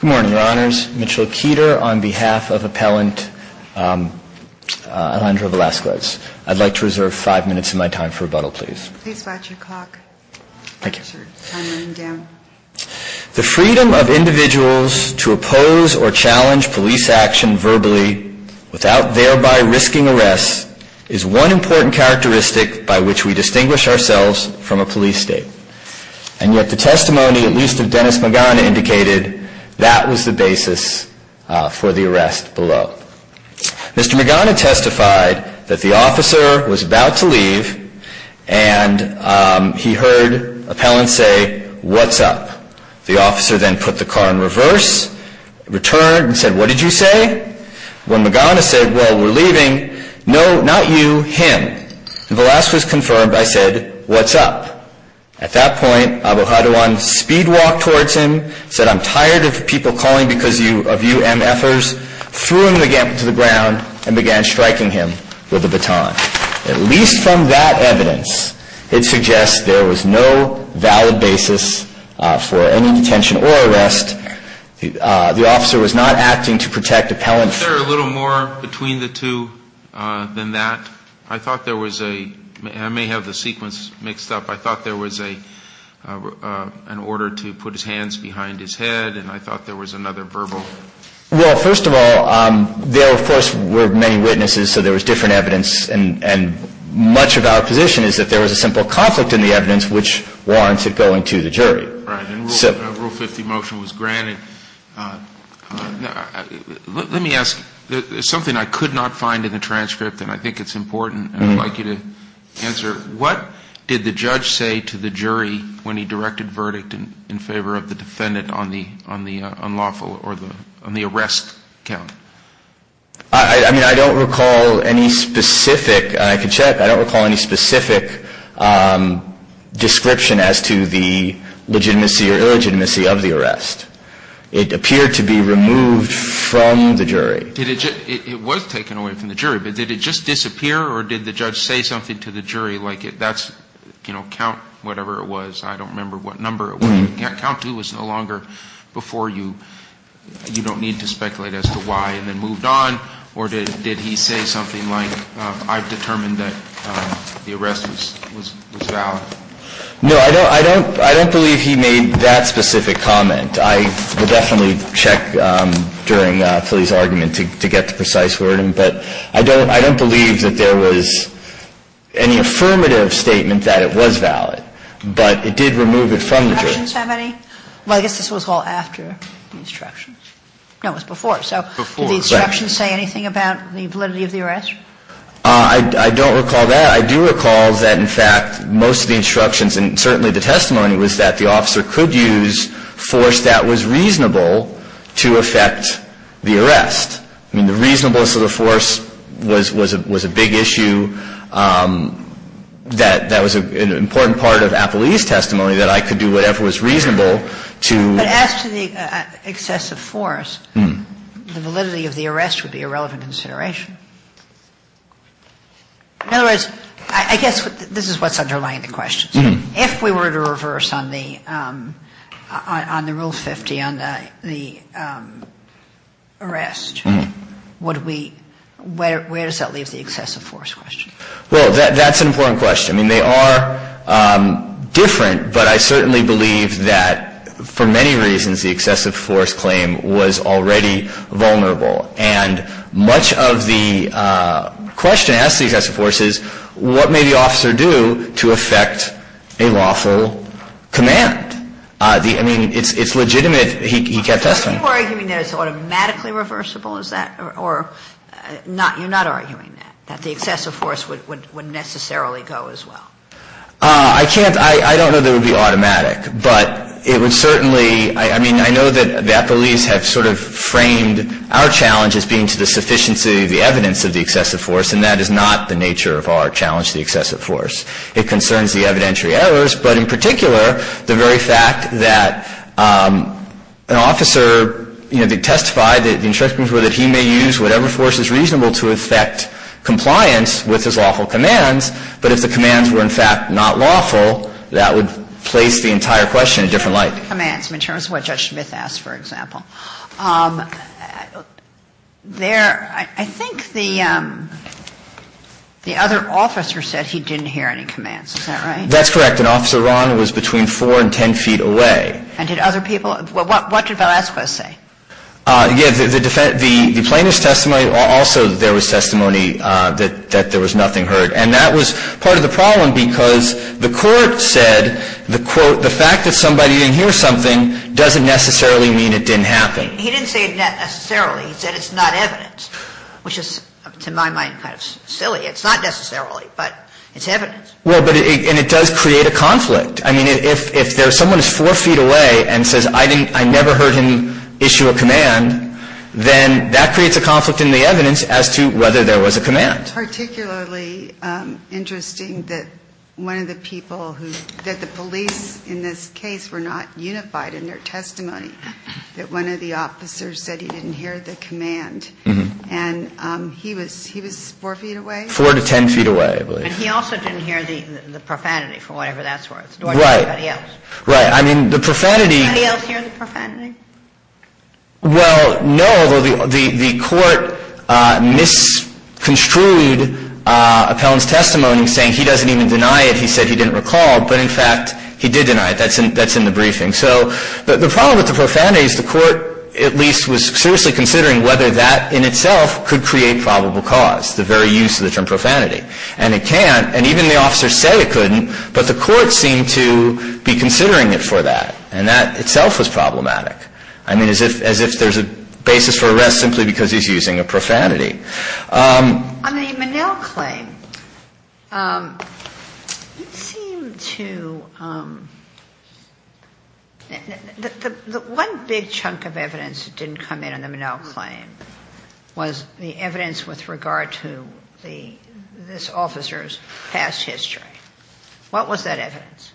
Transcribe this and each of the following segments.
Good morning, Your Honors. Mitchell Keeter on behalf of Appellant Alejandro Velazquez. I'd like to reserve five minutes of my time for rebuttal, please. Please watch your clock. Thank you. The freedom of individuals to oppose or challenge police action verbally without thereby risking arrest is one important characteristic by which we distinguish ourselves from a police state. And yet the testimony, at least of Dennis Magana, indicated that was the basis for the arrest below. Mr. Magana testified that the officer was about to leave and he heard Appellant say, What's up? The officer then put the car in reverse, returned and said, What did you say? When Magana said, Well, we're leaving. No, not you, him. When Velazquez confirmed, I said, What's up? At that point, Abohadawan speed walked towards him, said, I'm tired of people calling because of you MFers, threw him to the ground and began striking him with a baton. At least from that evidence, it suggests there was no valid basis for any detention or arrest. The officer was not acting to protect Appellant. Is there a little more between the two than that? I thought there was a, I may have the sequence mixed up, I thought there was an order to put his hands behind his head and I thought there was another verbal. Well, first of all, there of course were many witnesses so there was different evidence and much of our position is that there was a simple conflict in the evidence which warranted going to the jury. Right, and Rule 50 motion was granted. Let me ask, something I could not find in the transcript and I think it's important and I'd like you to answer. What did the judge say to the jury when he directed verdict in favor of the defendant on the unlawful, on the arrest count? I mean, I don't recall any specific, I could check, I don't recall any specific description as to the legitimacy or illegitimacy of the arrest. It appeared to be removed from the jury. Did it just, it was taken away from the jury, but did it just disappear or did the judge say something to the jury like that's, you know, count whatever it was, I don't remember what number it was, count two was no longer before you, you don't need to speculate as to why and then moved on or did he say something like I've determined that the arrest was valid? No, I don't believe he made that specific comment. I will definitely check during Philly's argument to get the precise wording, but I don't, I don't believe that there was any affirmative statement that it was valid, but it did remove it from the jury. Do the instructions have any? Well, I guess this was all after the instructions. No, it was before, so. Before, correct. Did the instructions say anything about the validity of the arrest? I don't recall that. I do recall that, in fact, most of the instructions and certainly the testimony was that the officer could use force that was reasonable to affect the arrest. I mean, the reasonableness of the force was a big issue. That was an important part of Appley's testimony, that I could do whatever was reasonable to. But as to the excessive force, the validity of the arrest would be a relevant consideration. In other words, I guess this is what's underlying the question. If we were to reverse on the rule 50 on the arrest, would we, where does that leave the excessive force question? Well, that's an important question. I mean, they are different, but I certainly believe that for many reasons the excessive force claim was already vulnerable. And much of the question asked to the excessive force is what may the officer do to prevent a lawful command? I mean, it's legitimate. He kept testifying. Are you arguing that it's automatically reversible, is that, or you're not arguing that, that the excessive force would necessarily go as well? I can't. I don't know that it would be automatic. But it would certainly, I mean, I know that Appley's have sort of framed our challenge as being to the sufficiency of the evidence of the excessive force, and that is not the nature of our challenge to the excessive force. It concerns the evidentiary errors. But in particular, the very fact that an officer, you know, they testified that the instructions were that he may use whatever force is reasonable to effect compliance with his lawful commands. But if the commands were, in fact, not lawful, that would place the entire question in a different light. The commands, in terms of what Judge Smith asked, for example. There, I think the other officer said he didn't hear any commands. Is that right? That's correct. And Officer Ron was between 4 and 10 feet away. And did other people? What did Velasco say? Yeah, the plaintiff's testimony, also there was testimony that there was nothing heard. And that was part of the problem, because the court said, the quote, the fact that somebody didn't hear something doesn't necessarily mean it didn't happen. He didn't say necessarily. He said it's not evidence. Which is, to my mind, kind of silly. It's not necessarily, but it's evidence. Well, and it does create a conflict. I mean, if someone is 4 feet away and says, I never heard him issue a command, then that creates a conflict in the evidence as to whether there was a command. It's particularly interesting that one of the people who, that the police in this that one of the officers said he didn't hear the command. And he was 4 feet away? 4 to 10 feet away, I believe. And he also didn't hear the profanity, for whatever that's worth, nor did anybody else. Right. I mean, the profanity. Did anybody else hear the profanity? Well, no, although the court misconstrued Appellant's testimony, saying he doesn't even deny it. He said he didn't recall. But, in fact, he did deny it. That's in the briefing. So the problem with the profanity is the court, at least, was seriously considering whether that in itself could create probable cause, the very use of the term profanity. And it can't. And even the officers say it couldn't, but the court seemed to be considering it for that. And that itself was problematic. I mean, as if there's a basis for arrest simply because he's using a profanity. On the Minnell claim, it seemed to the one big chunk of evidence that didn't come in on the Minnell claim was the evidence with regard to this officer's past history. What was that evidence?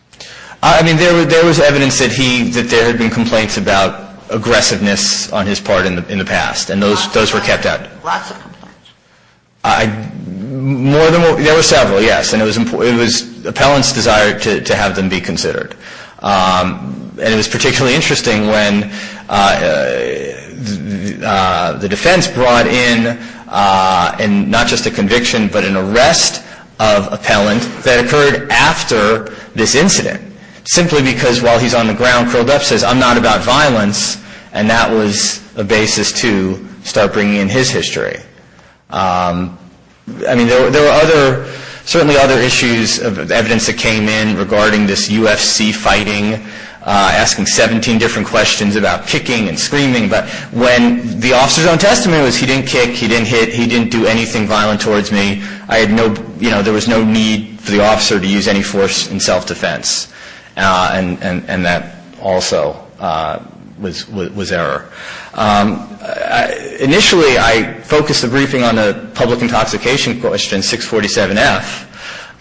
I mean, there was evidence that there had been complaints about aggressiveness on his part in the past. And those were kept out. Lots of complaints. More than one. There were several, yes. And it was appellant's desire to have them be considered. And it was particularly interesting when the defense brought in not just a conviction, but an arrest of appellant that occurred after this incident, simply because while he's on the ground, curled up, says, I'm not about violence. And that was a basis to start bringing in his history. I mean, there were other, certainly other issues of evidence that came in regarding this UFC fighting, asking 17 different questions about kicking and screaming. But when the officer's own testimony was he didn't kick, he didn't hit, he didn't do anything violent towards me, I had no, you know, there was no need for the officer to use any force in self-defense. And that also was error. Initially, I focused the briefing on the public intoxication question, 647F.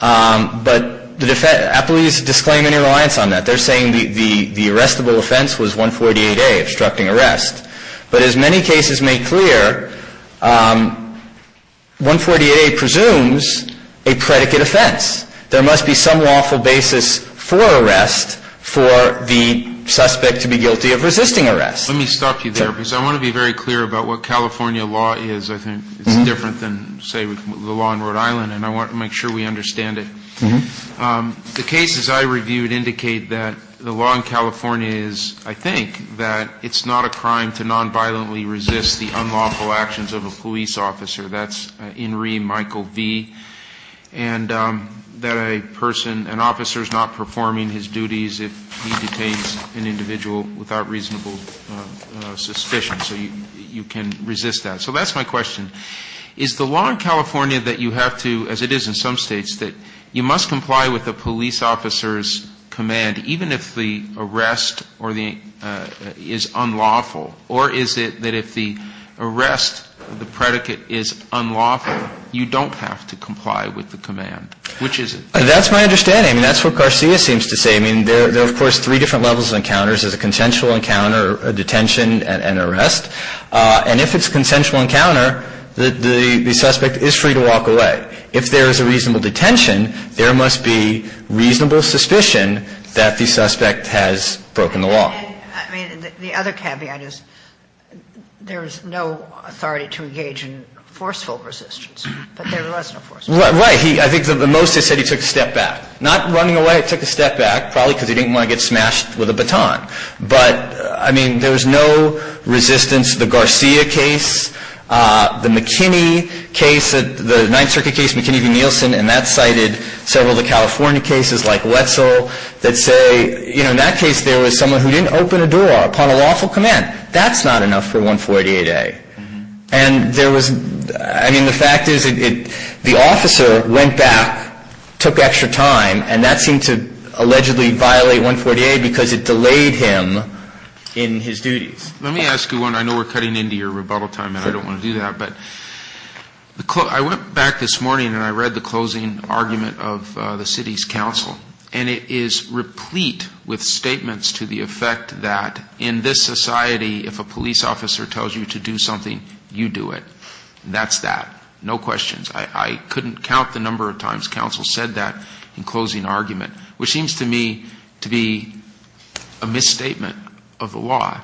But the defense, appellees disclaim any reliance on that. They're saying the arrestable offense was 148A, obstructing arrest. But as many cases make clear, 148A presumes a predicate offense. There must be some lawful basis for arrest for the suspect to be guilty of resisting arrest. Let me stop you there, because I want to be very clear about what California law is. I think it's different than, say, the law in Rhode Island. And I want to make sure we understand it. The cases I reviewed indicate that the law in California is, I think, that it's not a crime to nonviolently resist the unlawful actions of a police officer. That's Inree Michael V. And that a person, an officer is not performing his duties if he detains an individual without reasonable suspicion. So you can resist that. So that's my question. Is the law in California that you have to, as it is in some states, that you must comply with the police officer's command, even if the arrest is unlawful? Or is it that if the arrest, the predicate is unlawful, you don't have to comply with the command? Which is it? That's my understanding. I mean, that's what Garcia seems to say. I mean, there are, of course, three different levels of encounters. There's a consensual encounter, a detention, and an arrest. And if it's a consensual encounter, the suspect is free to walk away. If there is a reasonable detention, there must be reasonable suspicion that the suspect has broken the law. And, I mean, the other caveat is there is no authority to engage in forceful resistance. But there was no forceful resistance. Right. I think the most they said he took a step back. Not running away. He took a step back, probably because he didn't want to get smashed with a baton. But, I mean, there was no resistance. The Garcia case, the McKinney case, the Ninth Circuit case, McKinney v. Nielsen, in that case there was someone who didn't open a door upon a lawful command. That's not enough for 148A. And there was, I mean, the fact is the officer went back, took extra time, and that seemed to allegedly violate 148A because it delayed him in his duties. Let me ask you one. I know we're cutting into your rebuttal time, and I don't want to do that. But I went back this morning, and I read the closing argument of the city's council. And it is replete with statements to the effect that in this society, if a police officer tells you to do something, you do it. That's that. No questions. I couldn't count the number of times council said that in closing argument, which seems to me to be a misstatement of the law.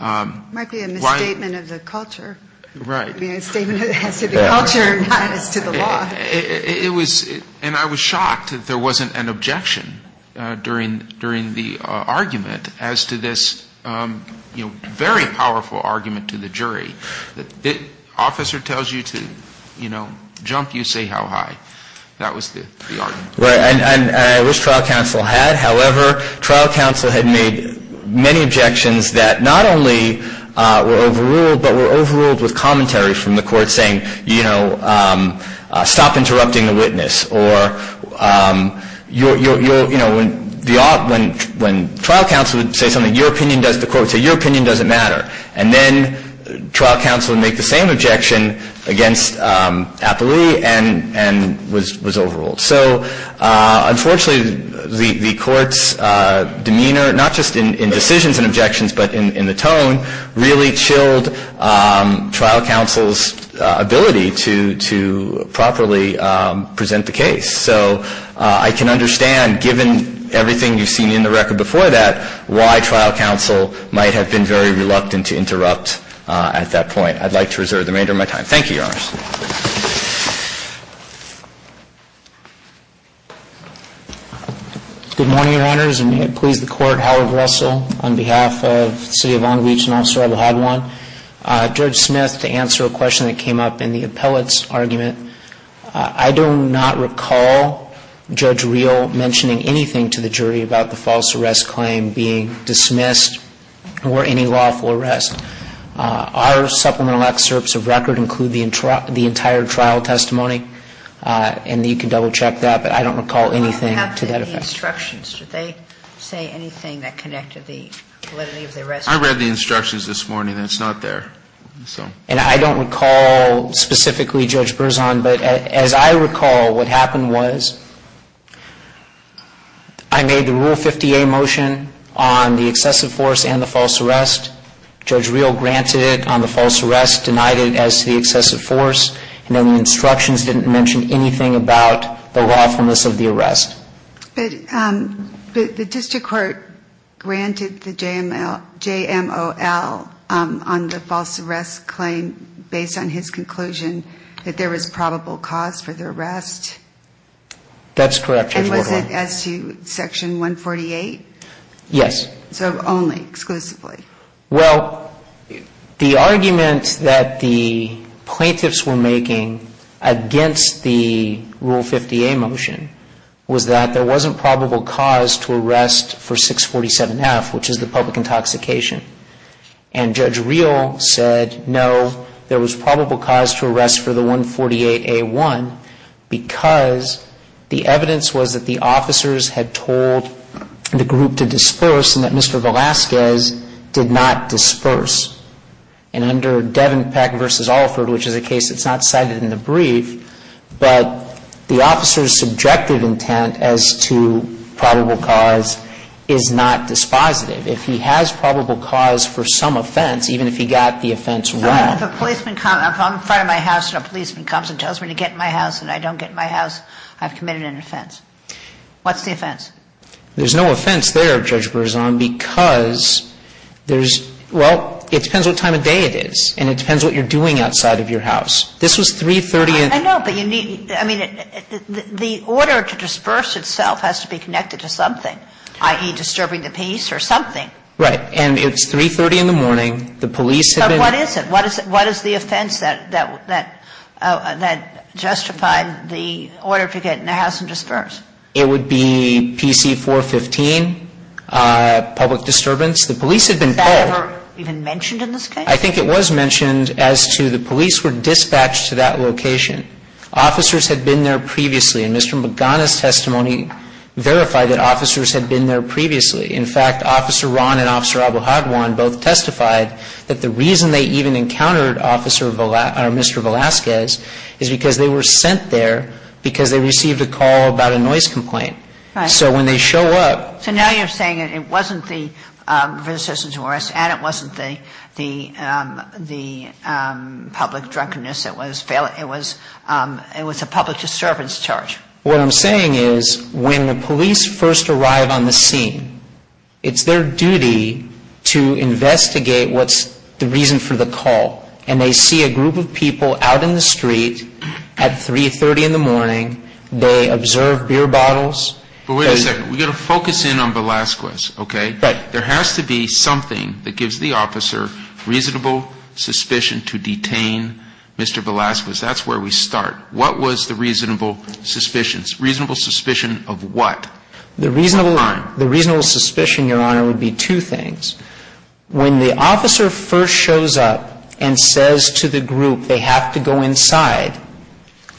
Might be a misstatement of the culture. Right. A statement that has to do with culture, not as to the law. And I was shocked that there wasn't an objection during the argument as to this, you know, very powerful argument to the jury. The officer tells you to, you know, jump, you say how high. That was the argument. Right. And I wish trial counsel had. However, trial counsel had made many objections that not only were overruled, but were overruled with Or, you know, when trial counsel would say something, the court would say, your opinion doesn't matter. And then trial counsel would make the same objection against Apolli and was overruled. So, unfortunately, the court's demeanor, not just in decisions and objections, but in the tone, really chilled trial counsel's ability to properly present the case. So I can understand, given everything you've seen in the record before that, why trial counsel might have been very reluctant to interrupt at that point. I'd like to reserve the remainder of my time. Thank you, Your Honors. Good morning, Your Honors. And may it please the Court, Howard Russell on behalf of the City of Long Beach and Officer Abu-Hadwan. Judge Smith, to answer a question that came up in the appellate's argument, I do not recall Judge Reel mentioning anything to the jury about the false arrest claim being dismissed or any lawful arrest. Our supplemental excerpts of record include the entire trial testimony. And you can double-check that. But I don't recall anything to that effect. What happened to the instructions? Did they say anything that connected the validity of the arrest? I read the instructions this morning, and it's not there. And I don't recall specifically Judge Berzon. But as I recall, what happened was I made the Rule 50A motion on the excessive force and the false arrest. Judge Reel granted it on the false arrest, denied it as to the excessive force. And then the instructions didn't mention anything about the lawfulness of the arrest. But the district court granted the JMOL on the false arrest claim based on his conclusion that there was probable cause for the arrest. That's correct, Judge Berzon. And was it as to Section 148? Yes. So only, exclusively? Well, the argument that the plaintiffs were making against the Rule 50A motion was that there wasn't probable cause to arrest for 647F, which is the public intoxication. And Judge Reel said, no, there was probable cause to arrest for the 148A1 because the evidence was that the officers had told the group to And under Devenpeck v. Alford, which is a case that's not cited in the brief, but the officer's subjective intent as to probable cause is not dispositive. If he has probable cause for some offense, even if he got the offense wrong. All right. If a policeman comes, if I'm in front of my house and a policeman comes and tells me to get in my house and I don't get in my house, I've committed an offense. What's the offense? There's no offense there, Judge Berzon, because there's, well, it depends what time of day it is, and it depends what you're doing outside of your house. This was 330 and I know, but you need, I mean, the order to disperse itself has to be connected to something, i.e., disturbing the peace or something. Right. And it's 330 in the morning. The police have been But what is it? What is the offense that justified the order to get in the house and disperse? It would be PC-415, public disturbance. The police have been Is that ever even mentioned in this case? I think it was mentioned as to the police were dispatched to that location. Officers had been there previously, and Mr. Magana's testimony verified that officers had been there previously. In fact, Officer Ron and Officer Abouhagwan both testified that the reason they even encountered Mr. Velazquez is because they were sent there because they received a call about a noise complaint. Right. So when they show up So now you're saying it wasn't the resistance to arrest and it wasn't the public drunkenness, it was a public disturbance charge. What I'm saying is when the police first arrive on the scene, it's their duty to investigate what's the reason for the call. And they see a group of people out in the street at 3.30 in the morning. They observe beer bottles. But wait a second. We've got to focus in on Velazquez, okay? Right. There has to be something that gives the officer reasonable suspicion to detain Mr. Velazquez. That's where we start. What was the reasonable suspicion? Reasonable suspicion of what? The reasonable suspicion, Your Honor, would be two things. When the officer first shows up and says to the group they have to go inside,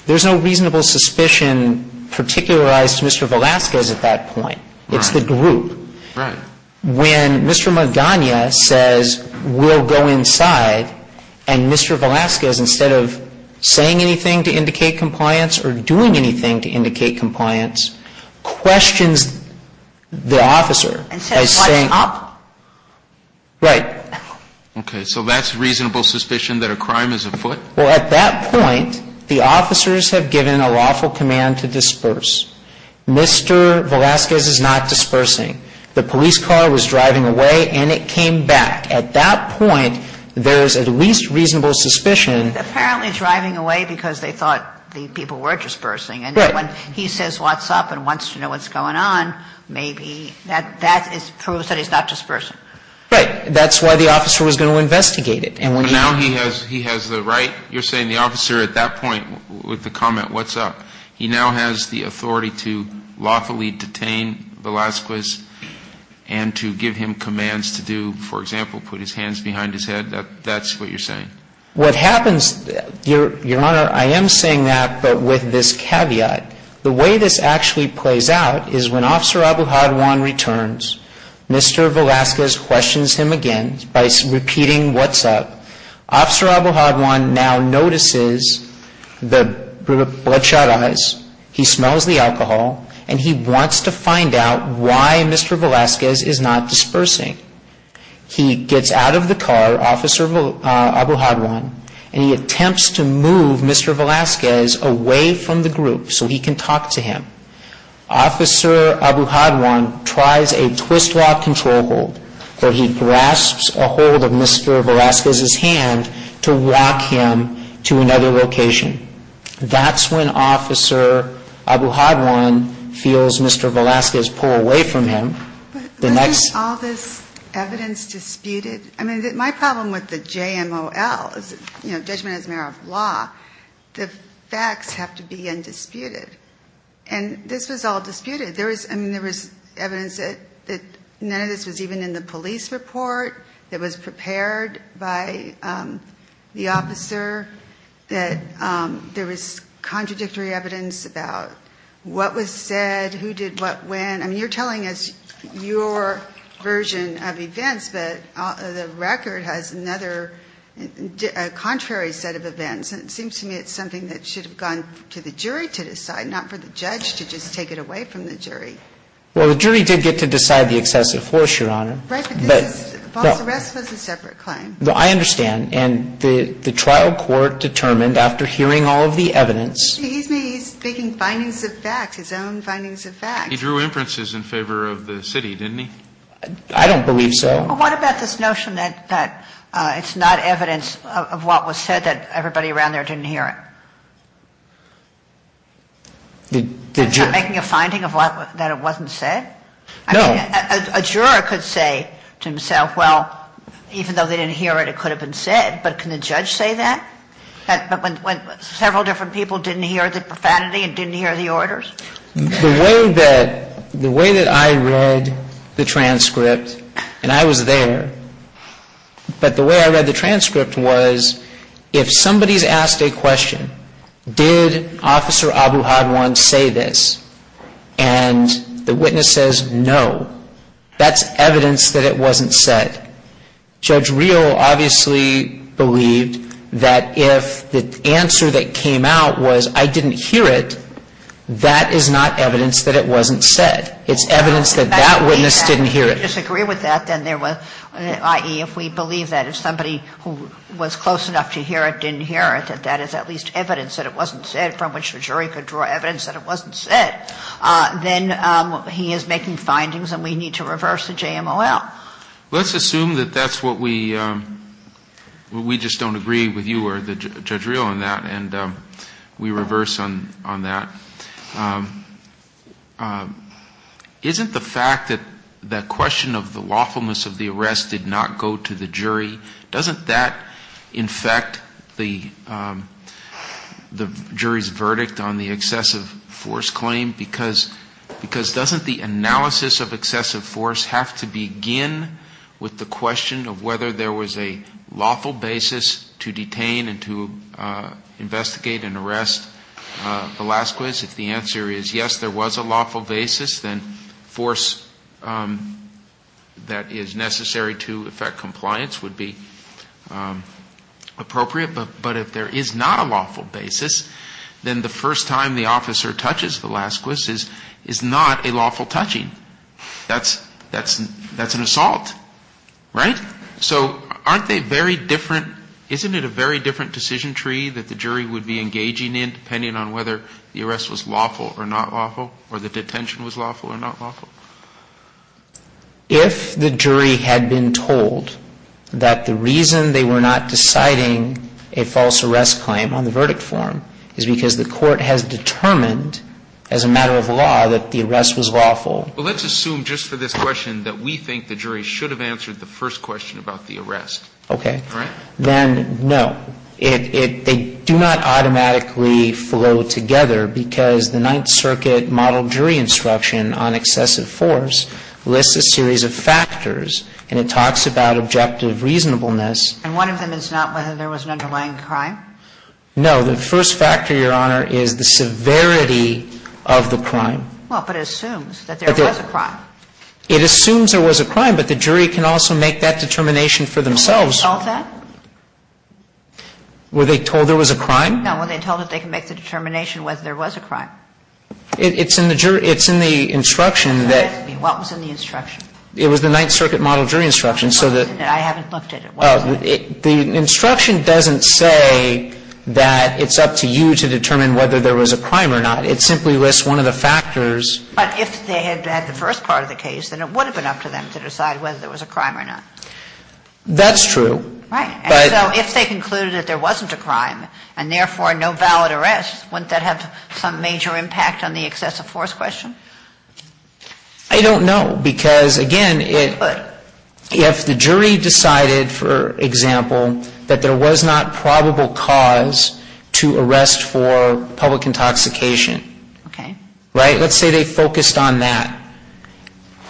there's no reasonable suspicion particularized to Mr. Velazquez at that point. It's the group. Right. When Mr. Magana says we'll go inside and Mr. Velazquez, instead of saying anything to indicate compliance or doing anything to indicate compliance, questions the officer. And says what's up? Right. Okay. So that's reasonable suspicion that a crime is afoot? Well, at that point, the officers have given a lawful command to disperse. Mr. Velazquez is not dispersing. The police car was driving away and it came back. At that point, there is at least reasonable suspicion. He's apparently driving away because they thought the people were dispersing. Right. When he says what's up and wants to know what's going on, maybe that proves that he's not dispersing. Right. That's why the officer was going to investigate it. Now he has the right? You're saying the officer at that point with the comment what's up, he now has the authority to lawfully detain Velazquez and to give him commands to do, for example, put his hands behind his head? That's what you're saying? What happens, Your Honor, I am saying that but with this caveat. The way this actually plays out is when Officer Abouhadwan returns, Mr. Velazquez questions him again by repeating what's up. Officer Abouhadwan now notices the bloodshot eyes, he smells the alcohol, and he wants to find out why Mr. Velazquez is not dispersing. He gets out of the car, Officer Abouhadwan, and he attempts to move Mr. Velazquez away from the group so he can talk to him. Officer Abouhadwan tries a twist lock control hold where he grasps a hold of Mr. Velazquez's hand to walk him to another location. That's when Officer Abouhadwan feels Mr. Velazquez pull away from him. But isn't all this evidence disputed? I mean, my problem with the JMOL, judgment as a matter of law, the facts have to be undisputed. And this was all disputed. I mean, there was evidence that none of this was even in the police report, it was prepared by the officer, that there was contradictory evidence about what was said, who did what when. I mean, you're telling us your version of events, but the record has another contrary set of events. And it seems to me it's something that should have gone to the jury to decide, not for the judge to just take it away from the jury. Well, the jury did get to decide the excessive force, Your Honor. Right, but this false arrest was a separate claim. No, I understand. And the trial court determined after hearing all of the evidence. He's making findings of facts, his own findings of facts. He drew inferences in favor of the city, didn't he? I don't believe so. Well, what about this notion that it's not evidence of what was said, that everybody around there didn't hear it? Did you? Is that making a finding that it wasn't said? No. I mean, a juror could say to himself, well, even though they didn't hear it, it could have been said. But can the judge say that? The way that I read the transcript, and I was there, but the way I read the transcript was if somebody's asked a question, did Officer Abu-Hadwan say this, and the witness says no, that's evidence that it wasn't said. Judge Reel obviously believed that if the answer that came out was I didn't hear it, that is not evidence that it wasn't said. It's evidence that that witness didn't hear it. If we disagree with that, then there was, i.e., if we believe that if somebody who was close enough to hear it didn't hear it, that that is at least evidence that it wasn't said, from which the jury could draw evidence that it wasn't said, then he is making findings and we need to reverse the JMOL. Let's assume that that's what we, we just don't agree with you or Judge Reel on that, and we reverse on that. Isn't the fact that that question of the lawfulness of the arrest did not go to the jury, doesn't that infect the jury's verdict on the excessive force claim? Because doesn't the analysis of excessive force have to begin with the question of whether there was a lawful basis to detain and to investigate and arrest Velazquez? If the answer is yes, there was a lawful basis, then force that is necessary to effect compliance would be appropriate. But if there is not a lawful basis, then the first time the officer touches Velazquez is not a lawful touching. That's an assault, right? So aren't they very different? Isn't it a very different decision tree that the jury would be engaging in, depending on whether the arrest was lawful or not lawful or the detention was lawful or not lawful? If the jury had been told that the reason they were not deciding a false arrest claim on the verdict form is because the court has determined as a matter of law that the arrest was lawful. Well, let's assume just for this question that we think the jury should have answered the first question about the arrest. Okay. All right? Then no. They do not automatically flow together because the Ninth Circuit model jury instruction on excessive force lists a series of factors, and it talks about objective reasonableness. And one of them is not whether there was an underlying crime? No. The first factor, Your Honor, is the severity of the crime. Well, but it assumes that there was a crime. It assumes there was a crime, but the jury can also make that determination for themselves. Were they told that? Were they told there was a crime? No. Were they told that they can make the determination whether there was a crime? It's in the jury. It's in the instruction that. What was in the instruction? It was the Ninth Circuit model jury instruction, so that. I haven't looked at it. The instruction doesn't say that it's up to you to determine whether there was a crime or not. It simply lists one of the factors. But if they had had the first part of the case, then it would have been up to them to decide whether there was a crime or not. That's true. Right. And so if they concluded that there wasn't a crime and, therefore, no valid arrest, wouldn't that have some major impact on the excessive force question? I don't know because, again, if the jury decided, for example, that there was not probable cause to arrest for public intoxication. Okay. Right? Let's say they focused on that.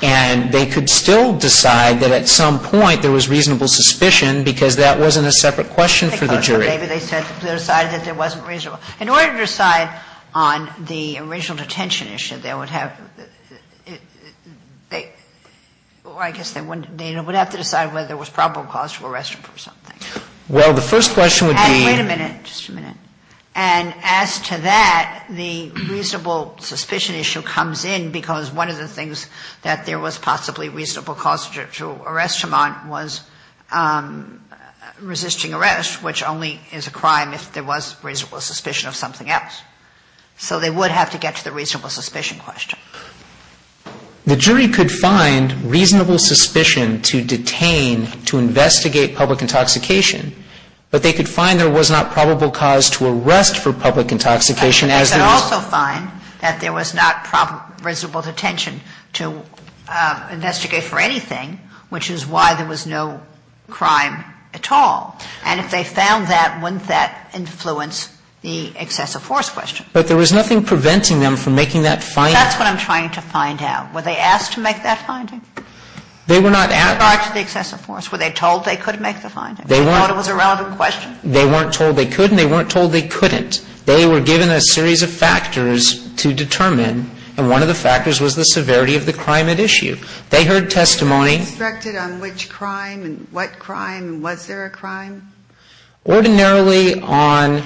And they could still decide that at some point there was reasonable suspicion because that wasn't a separate question for the jury. Okay. But maybe they said they decided that there wasn't reasonable. In order to decide on the original detention issue, they would have to decide whether there was probable cause to arrest him for something. Well, the first question would be. Wait a minute. Just a minute. And as to that, the reasonable suspicion issue comes in because one of the things that there was possibly reasonable cause to arrest him on was resisting arrest, which only is a crime if there was reasonable suspicion of something else. So they would have to get to the reasonable suspicion question. The jury could find reasonable suspicion to detain to investigate public intoxication, but they could find there was not probable cause to arrest for public intoxication as there was. But they could also find that there was not probable reasonable detention to investigate for anything, which is why there was no crime at all. And if they found that, wouldn't that influence the excessive force question? But there was nothing preventing them from making that finding. That's what I'm trying to find out. Were they asked to make that finding? They were not asked. With regard to the excessive force, were they told they could make the finding? They weren't. They thought it was a relevant question? They weren't told they could and they weren't told they couldn't. They were given a series of factors to determine, and one of the factors was the severity of the crime at issue. They heard testimony. Were they instructed on which crime and what crime and was there a crime? Ordinarily on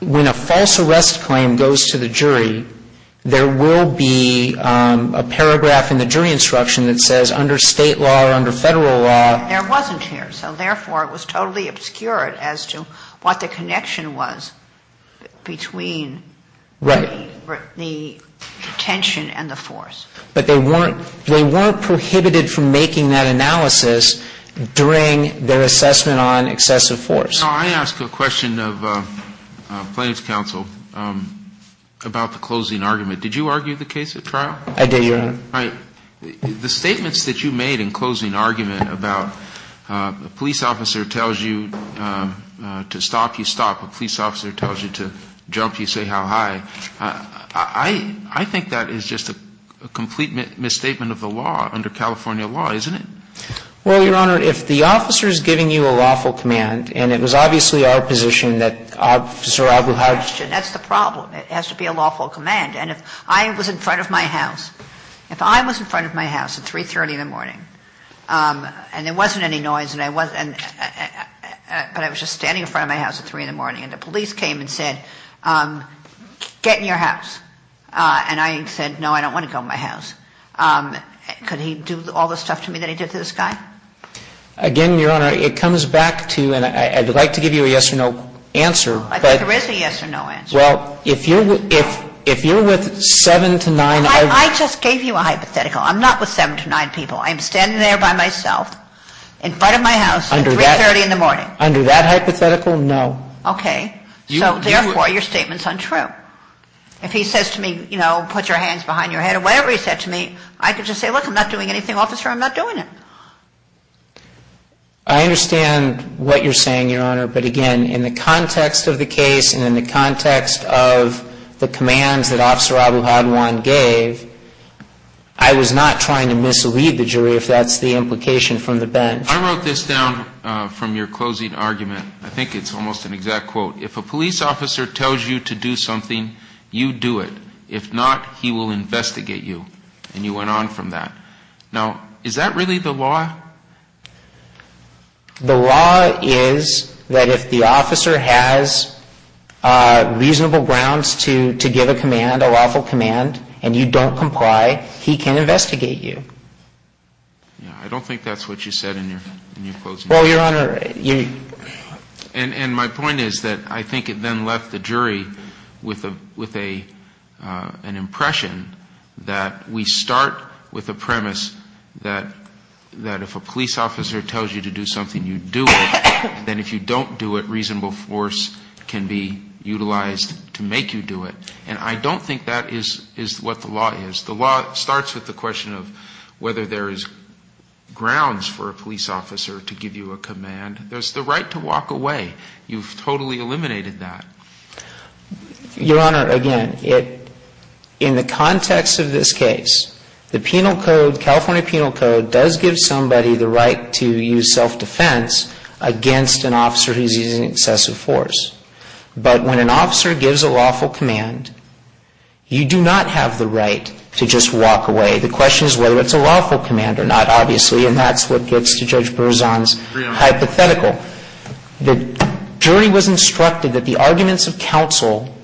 when a false arrest claim goes to the jury, there will be a paragraph in the jury instruction that says under State law or under Federal law. There wasn't here. So therefore, it was totally obscured as to what the connection was between the detention and the force. But they weren't prohibited from making that analysis during their assessment on excessive force. Now, I ask a question of plaintiff's counsel about the closing argument. Did you argue the case at trial? I did, Your Honor. All right. The statements that you made in closing argument about a police officer tells you to stop, you stop. A police officer tells you to jump, you say how high. I think that is just a complete misstatement of the law under California law, isn't it? Well, Your Honor, if the officer is giving you a lawful command, and it was obviously our position that Officer Abu Hajj. That's the problem. It has to be a lawful command. And if I was in front of my house, if I was in front of my house at 3.30 in the morning, and there wasn't any noise, but I was just standing in front of my house at 3.00 in the morning, and the police came and said, get in your house. And I said, no, I don't want to go in my house. Could he do all the stuff to me that he did to this guy? Again, Your Honor, it comes back to, and I would like to give you a yes or no answer. I think there is a yes or no answer. Well, if you're with seven to nine. I just gave you a hypothetical. I'm not with seven to nine people. I'm standing there by myself in front of my house at 3.30 in the morning. Under that hypothetical, no. Okay. So, therefore, your statement's untrue. If he says to me, you know, put your hands behind your head or whatever he said to me, I could just say, look, I'm not doing anything, Officer. I'm not doing it. I understand what you're saying, Your Honor. But, again, in the context of the case and in the context of the commands that Officer Abu Hadwan gave, I was not trying to mislead the jury, if that's the implication from the bench. I wrote this down from your closing argument. I think it's almost an exact quote. If a police officer tells you to do something, you do it. If not, he will investigate you. And you went on from that. Now, is that really the law? The law is that if the officer has reasonable grounds to give a command, a lawful command, and you don't comply, he can investigate you. Yeah, I don't think that's what you said in your closing argument. Well, Your Honor, you... And my point is that I think it then left the jury with an impression that we start with a premise that if a police officer tells you to do something, you do it. Then if you don't do it, reasonable force can be utilized to make you do it. And I don't think that is what the law is. The law starts with the question of whether there is grounds for a police officer to give you a command. There's the right to walk away. You've totally eliminated that. Your Honor, again, in the context of this case, the penal code, California penal code, does give somebody the right to use self-defense against an officer who's using excessive force. But when an officer gives a lawful command, you do not have the right to just walk away. The question is whether it's a lawful command or not, obviously. And that's what gets to Judge Berzon's hypothetical. The jury was instructed that the arguments of counsel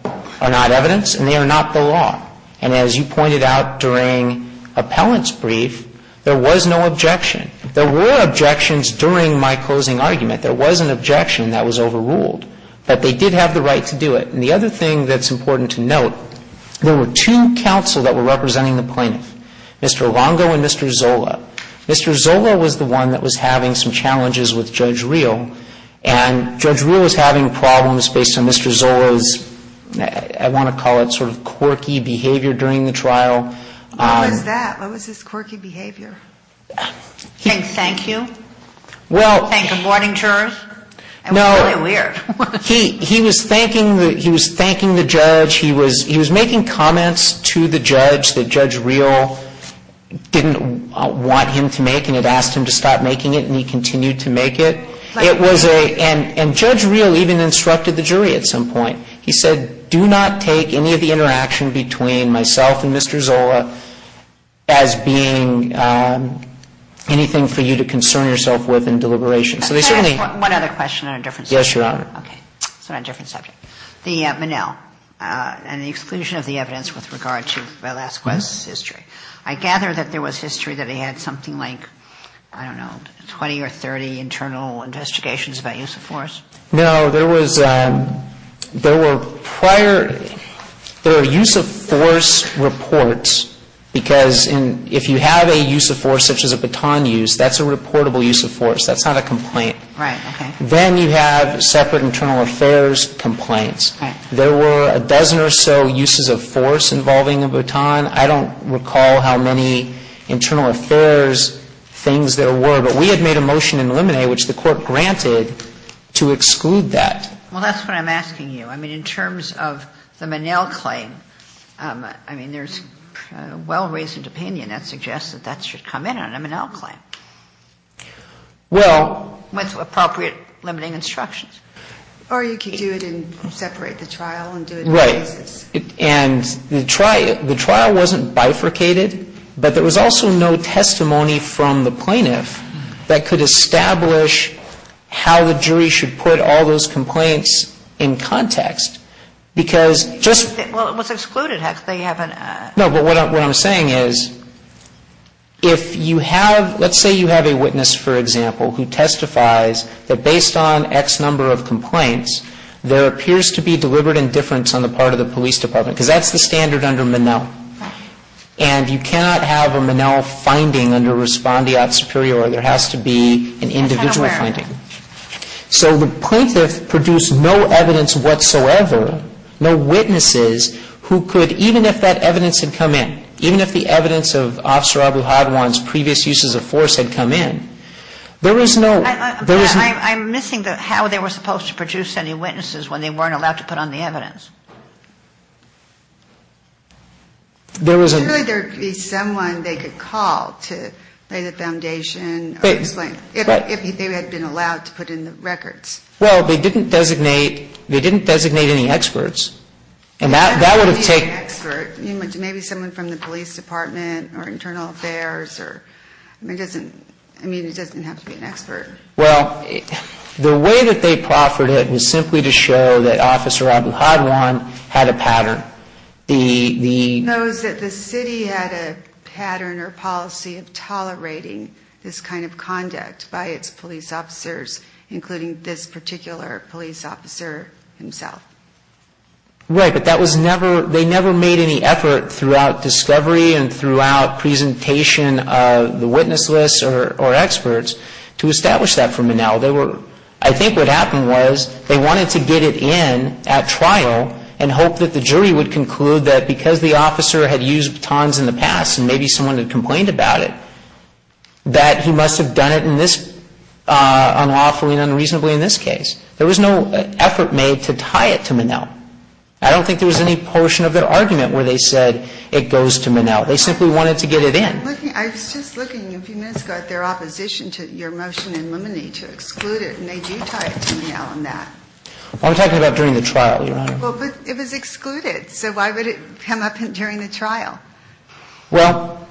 are not evidence and they are not the law. And as you pointed out during Appellant's brief, there was no objection. There were objections during my closing argument. There was an objection that was overruled. But they did have the right to do it. And the other thing that's important to note, there were two counsel that were representing the plaintiff, Mr. Longo and Mr. Zola. Mr. Zola was the one that was having some challenges with Judge Reel. And Judge Reel was having problems based on Mr. Zola's, I want to call it sort of quirky behavior during the trial. What was that? What was his quirky behavior? Saying thank you? Well. Saying good morning to her? No. It was really weird. He was thanking the judge. He was making comments to the judge that Judge Reel didn't want him to make and had asked him to stop making it and he continued to make it. And Judge Reel even instructed the jury at some point. He said do not take any of the interaction between myself and Mr. Zola as being anything for you to concern yourself with in deliberation. So they certainly. Can I ask one other question on a different subject? Yes, Your Honor. Okay. So on a different subject. The Monell and the exclusion of the evidence with regard to Velasquez's history. I gather that there was history that he had something like, I don't know, 20 or 30 internal investigations about use of force? No. There were prior, there were use of force reports because if you have a use of force such as a baton use, that's a reportable use of force. That's not a complaint. Right. Okay. Then you have separate internal affairs complaints. Okay. There were a dozen or so uses of force involving a baton. I don't recall how many internal affairs things there were. But we had made a motion in Lemonet which the Court granted to exclude that. Well, that's what I'm asking you. I mean, in terms of the Monell claim, I mean, there's well-raised opinion that suggests that that should come in on a Monell claim. Well. With appropriate limiting instructions. Or you could do it and separate the trial and do it in pieces. Right. And the trial wasn't bifurcated, but there was also no testimony from the plaintiff that could establish how the jury should put all those complaints in context, because just. Well, it was excluded. No, but what I'm saying is if you have, let's say you have a witness, for example, who testifies that based on X number of complaints, there appears to be deliberate indifference on the part of the police department, because that's the standard under Monell. Right. And you cannot have a Monell finding under respondeat superior. There has to be an individual finding. So the plaintiff produced no evidence whatsoever, no witnesses who could, even if that evidence had come in, even if the evidence of Officer Abu Hadwan's previous uses of force had come in, there was no. I'm missing how they were supposed to produce any witnesses when they weren't allowed to put on the evidence. There was a. There would be someone they could call to lay the foundation. If they had been allowed to put in the records. Well, they didn't designate any experts. And that would have taken. Maybe someone from the police department or internal affairs. I mean, it doesn't have to be an expert. Well, the way that they proffered it was simply to show that Officer Abu Hadwan had a pattern. He knows that the city had a pattern or policy of tolerating this kind of conduct by its police officers, including this particular police officer himself. Right. But that was never, they never made any effort throughout discovery and throughout presentation of the witness list or experts to establish that for Manel. They were, I think what happened was they wanted to get it in at trial and hope that the jury would conclude that because the officer had used batons in the past and maybe someone had complained about it, that he must have done it in this, unlawfully and unreasonably in this case. There was no effort made to tie it to Manel. I don't think there was any portion of their argument where they said it goes to Manel. They simply wanted to get it in. I was just looking a few minutes ago at their opposition to your motion in Lumine to exclude it. And they do tie it to Manel in that. I'm talking about during the trial, Your Honor. Well, but it was excluded. So why would it come up during the trial? Well,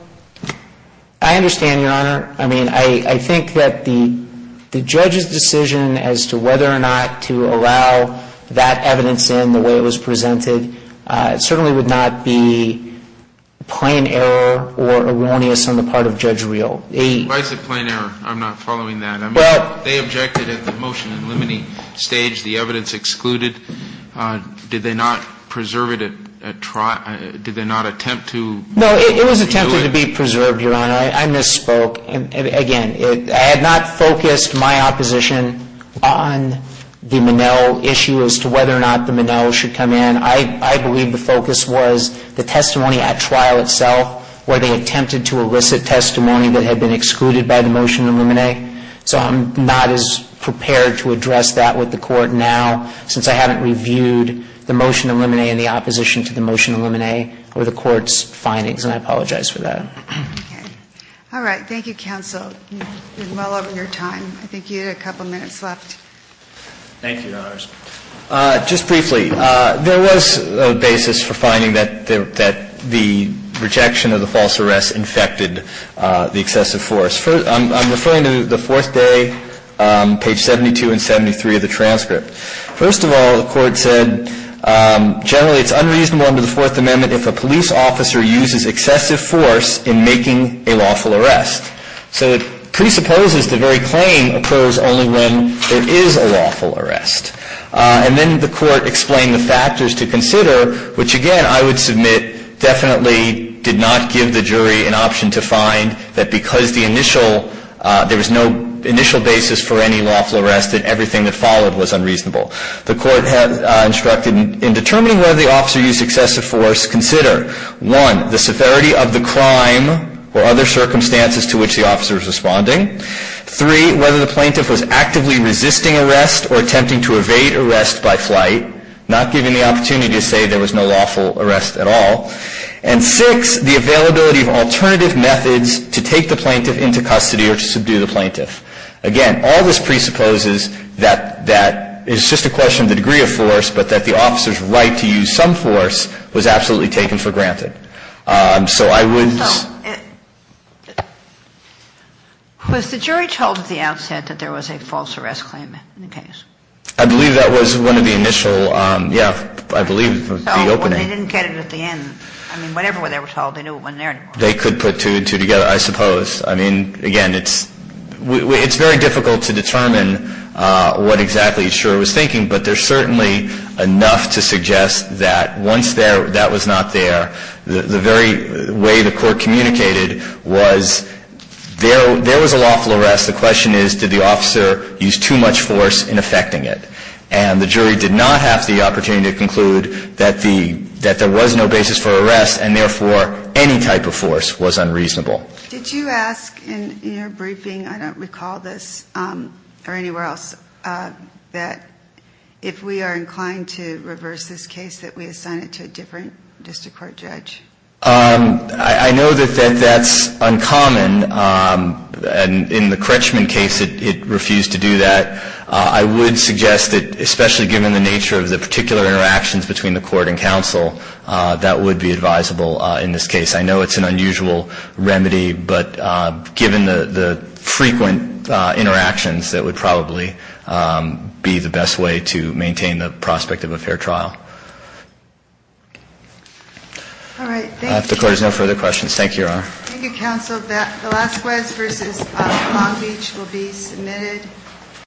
I understand, Your Honor. I mean, I think that the judge's decision as to whether or not to allow that evidence in the way it was presented certainly would not be plain error or erroneous on the part of Judge Reel. Why is it plain error? I'm not following that. They objected at the motion in Lumine stage. The evidence excluded. Did they not preserve it at trial? Did they not attempt to do it? No, it was attempted to be preserved, Your Honor. I misspoke. Again, I had not focused my opposition on the Manel issue as to whether or not the Manel should come in. I believe the focus was the testimony at trial itself where they attempted to elicit testimony that had been excluded by the motion in Lumine. So I'm not as prepared to address that with the Court now since I haven't reviewed the motion in Lumine in the opposition to the motion in Lumine or the Court's findings, and I apologize for that. Okay. All right. Thank you, counsel. You're well over your time. I think you had a couple minutes left. Thank you, Your Honors. Just briefly, there was a basis for finding that the rejection of the false arrest infected the excessive force. I'm referring to the fourth day, page 72 and 73 of the transcript. First of all, the Court said generally it's unreasonable under the Fourth Amendment if a police officer uses excessive force in making a lawful arrest. So it presupposes the very claim occurs only when there is a lawful arrest. And then the Court explained the factors to consider, which, again, I would submit definitely did not give the jury an option to find that because the initial – there was no initial basis for any lawful arrest and everything that followed was unreasonable. The Court instructed in determining whether the officer used excessive force, consider, one, the severity of the crime or other circumstances to which the officer was responding, three, whether the plaintiff was actively resisting arrest or attempting to evade arrest by flight, not giving the opportunity to say there was no lawful arrest at all, and six, the availability of alternative methods to take the plaintiff into custody or to subdue the plaintiff. Again, all this presupposes that that is just a question of the degree of force, but that the officer's right to use some force was absolutely taken for granted. So I would – So was the jury told at the outset that there was a false arrest claim in the case? I believe that was one of the initial, yeah, I believe, the opening. They didn't get it at the end. I mean, whatever they were told, they knew it wasn't there anymore. They could put two and two together, I suppose. I mean, again, it's very difficult to determine what exactly the insurer was thinking, but there's certainly enough to suggest that once that was not there, the very way the Court communicated was there was a lawful arrest. The question is did the officer use too much force in effecting it. And the jury did not have the opportunity to conclude that there was no basis for arrest and, therefore, any type of force was unreasonable. Did you ask in your briefing – I don't recall this or anywhere else – that if we are inclined to reverse this case, that we assign it to a different district court judge? I know that that's uncommon. In the Crutchman case, it refused to do that. I would suggest that, especially given the nature of the particular interactions between the Court and counsel, that would be advisable in this case. I know it's an unusual remedy, but given the frequent interactions, that would probably be the best way to maintain the prospect of a fair trial. All right. Thank you. If the Court has no further questions. Thank you, Your Honor. Thank you, counsel. The last quest versus Long Beach will be submitted.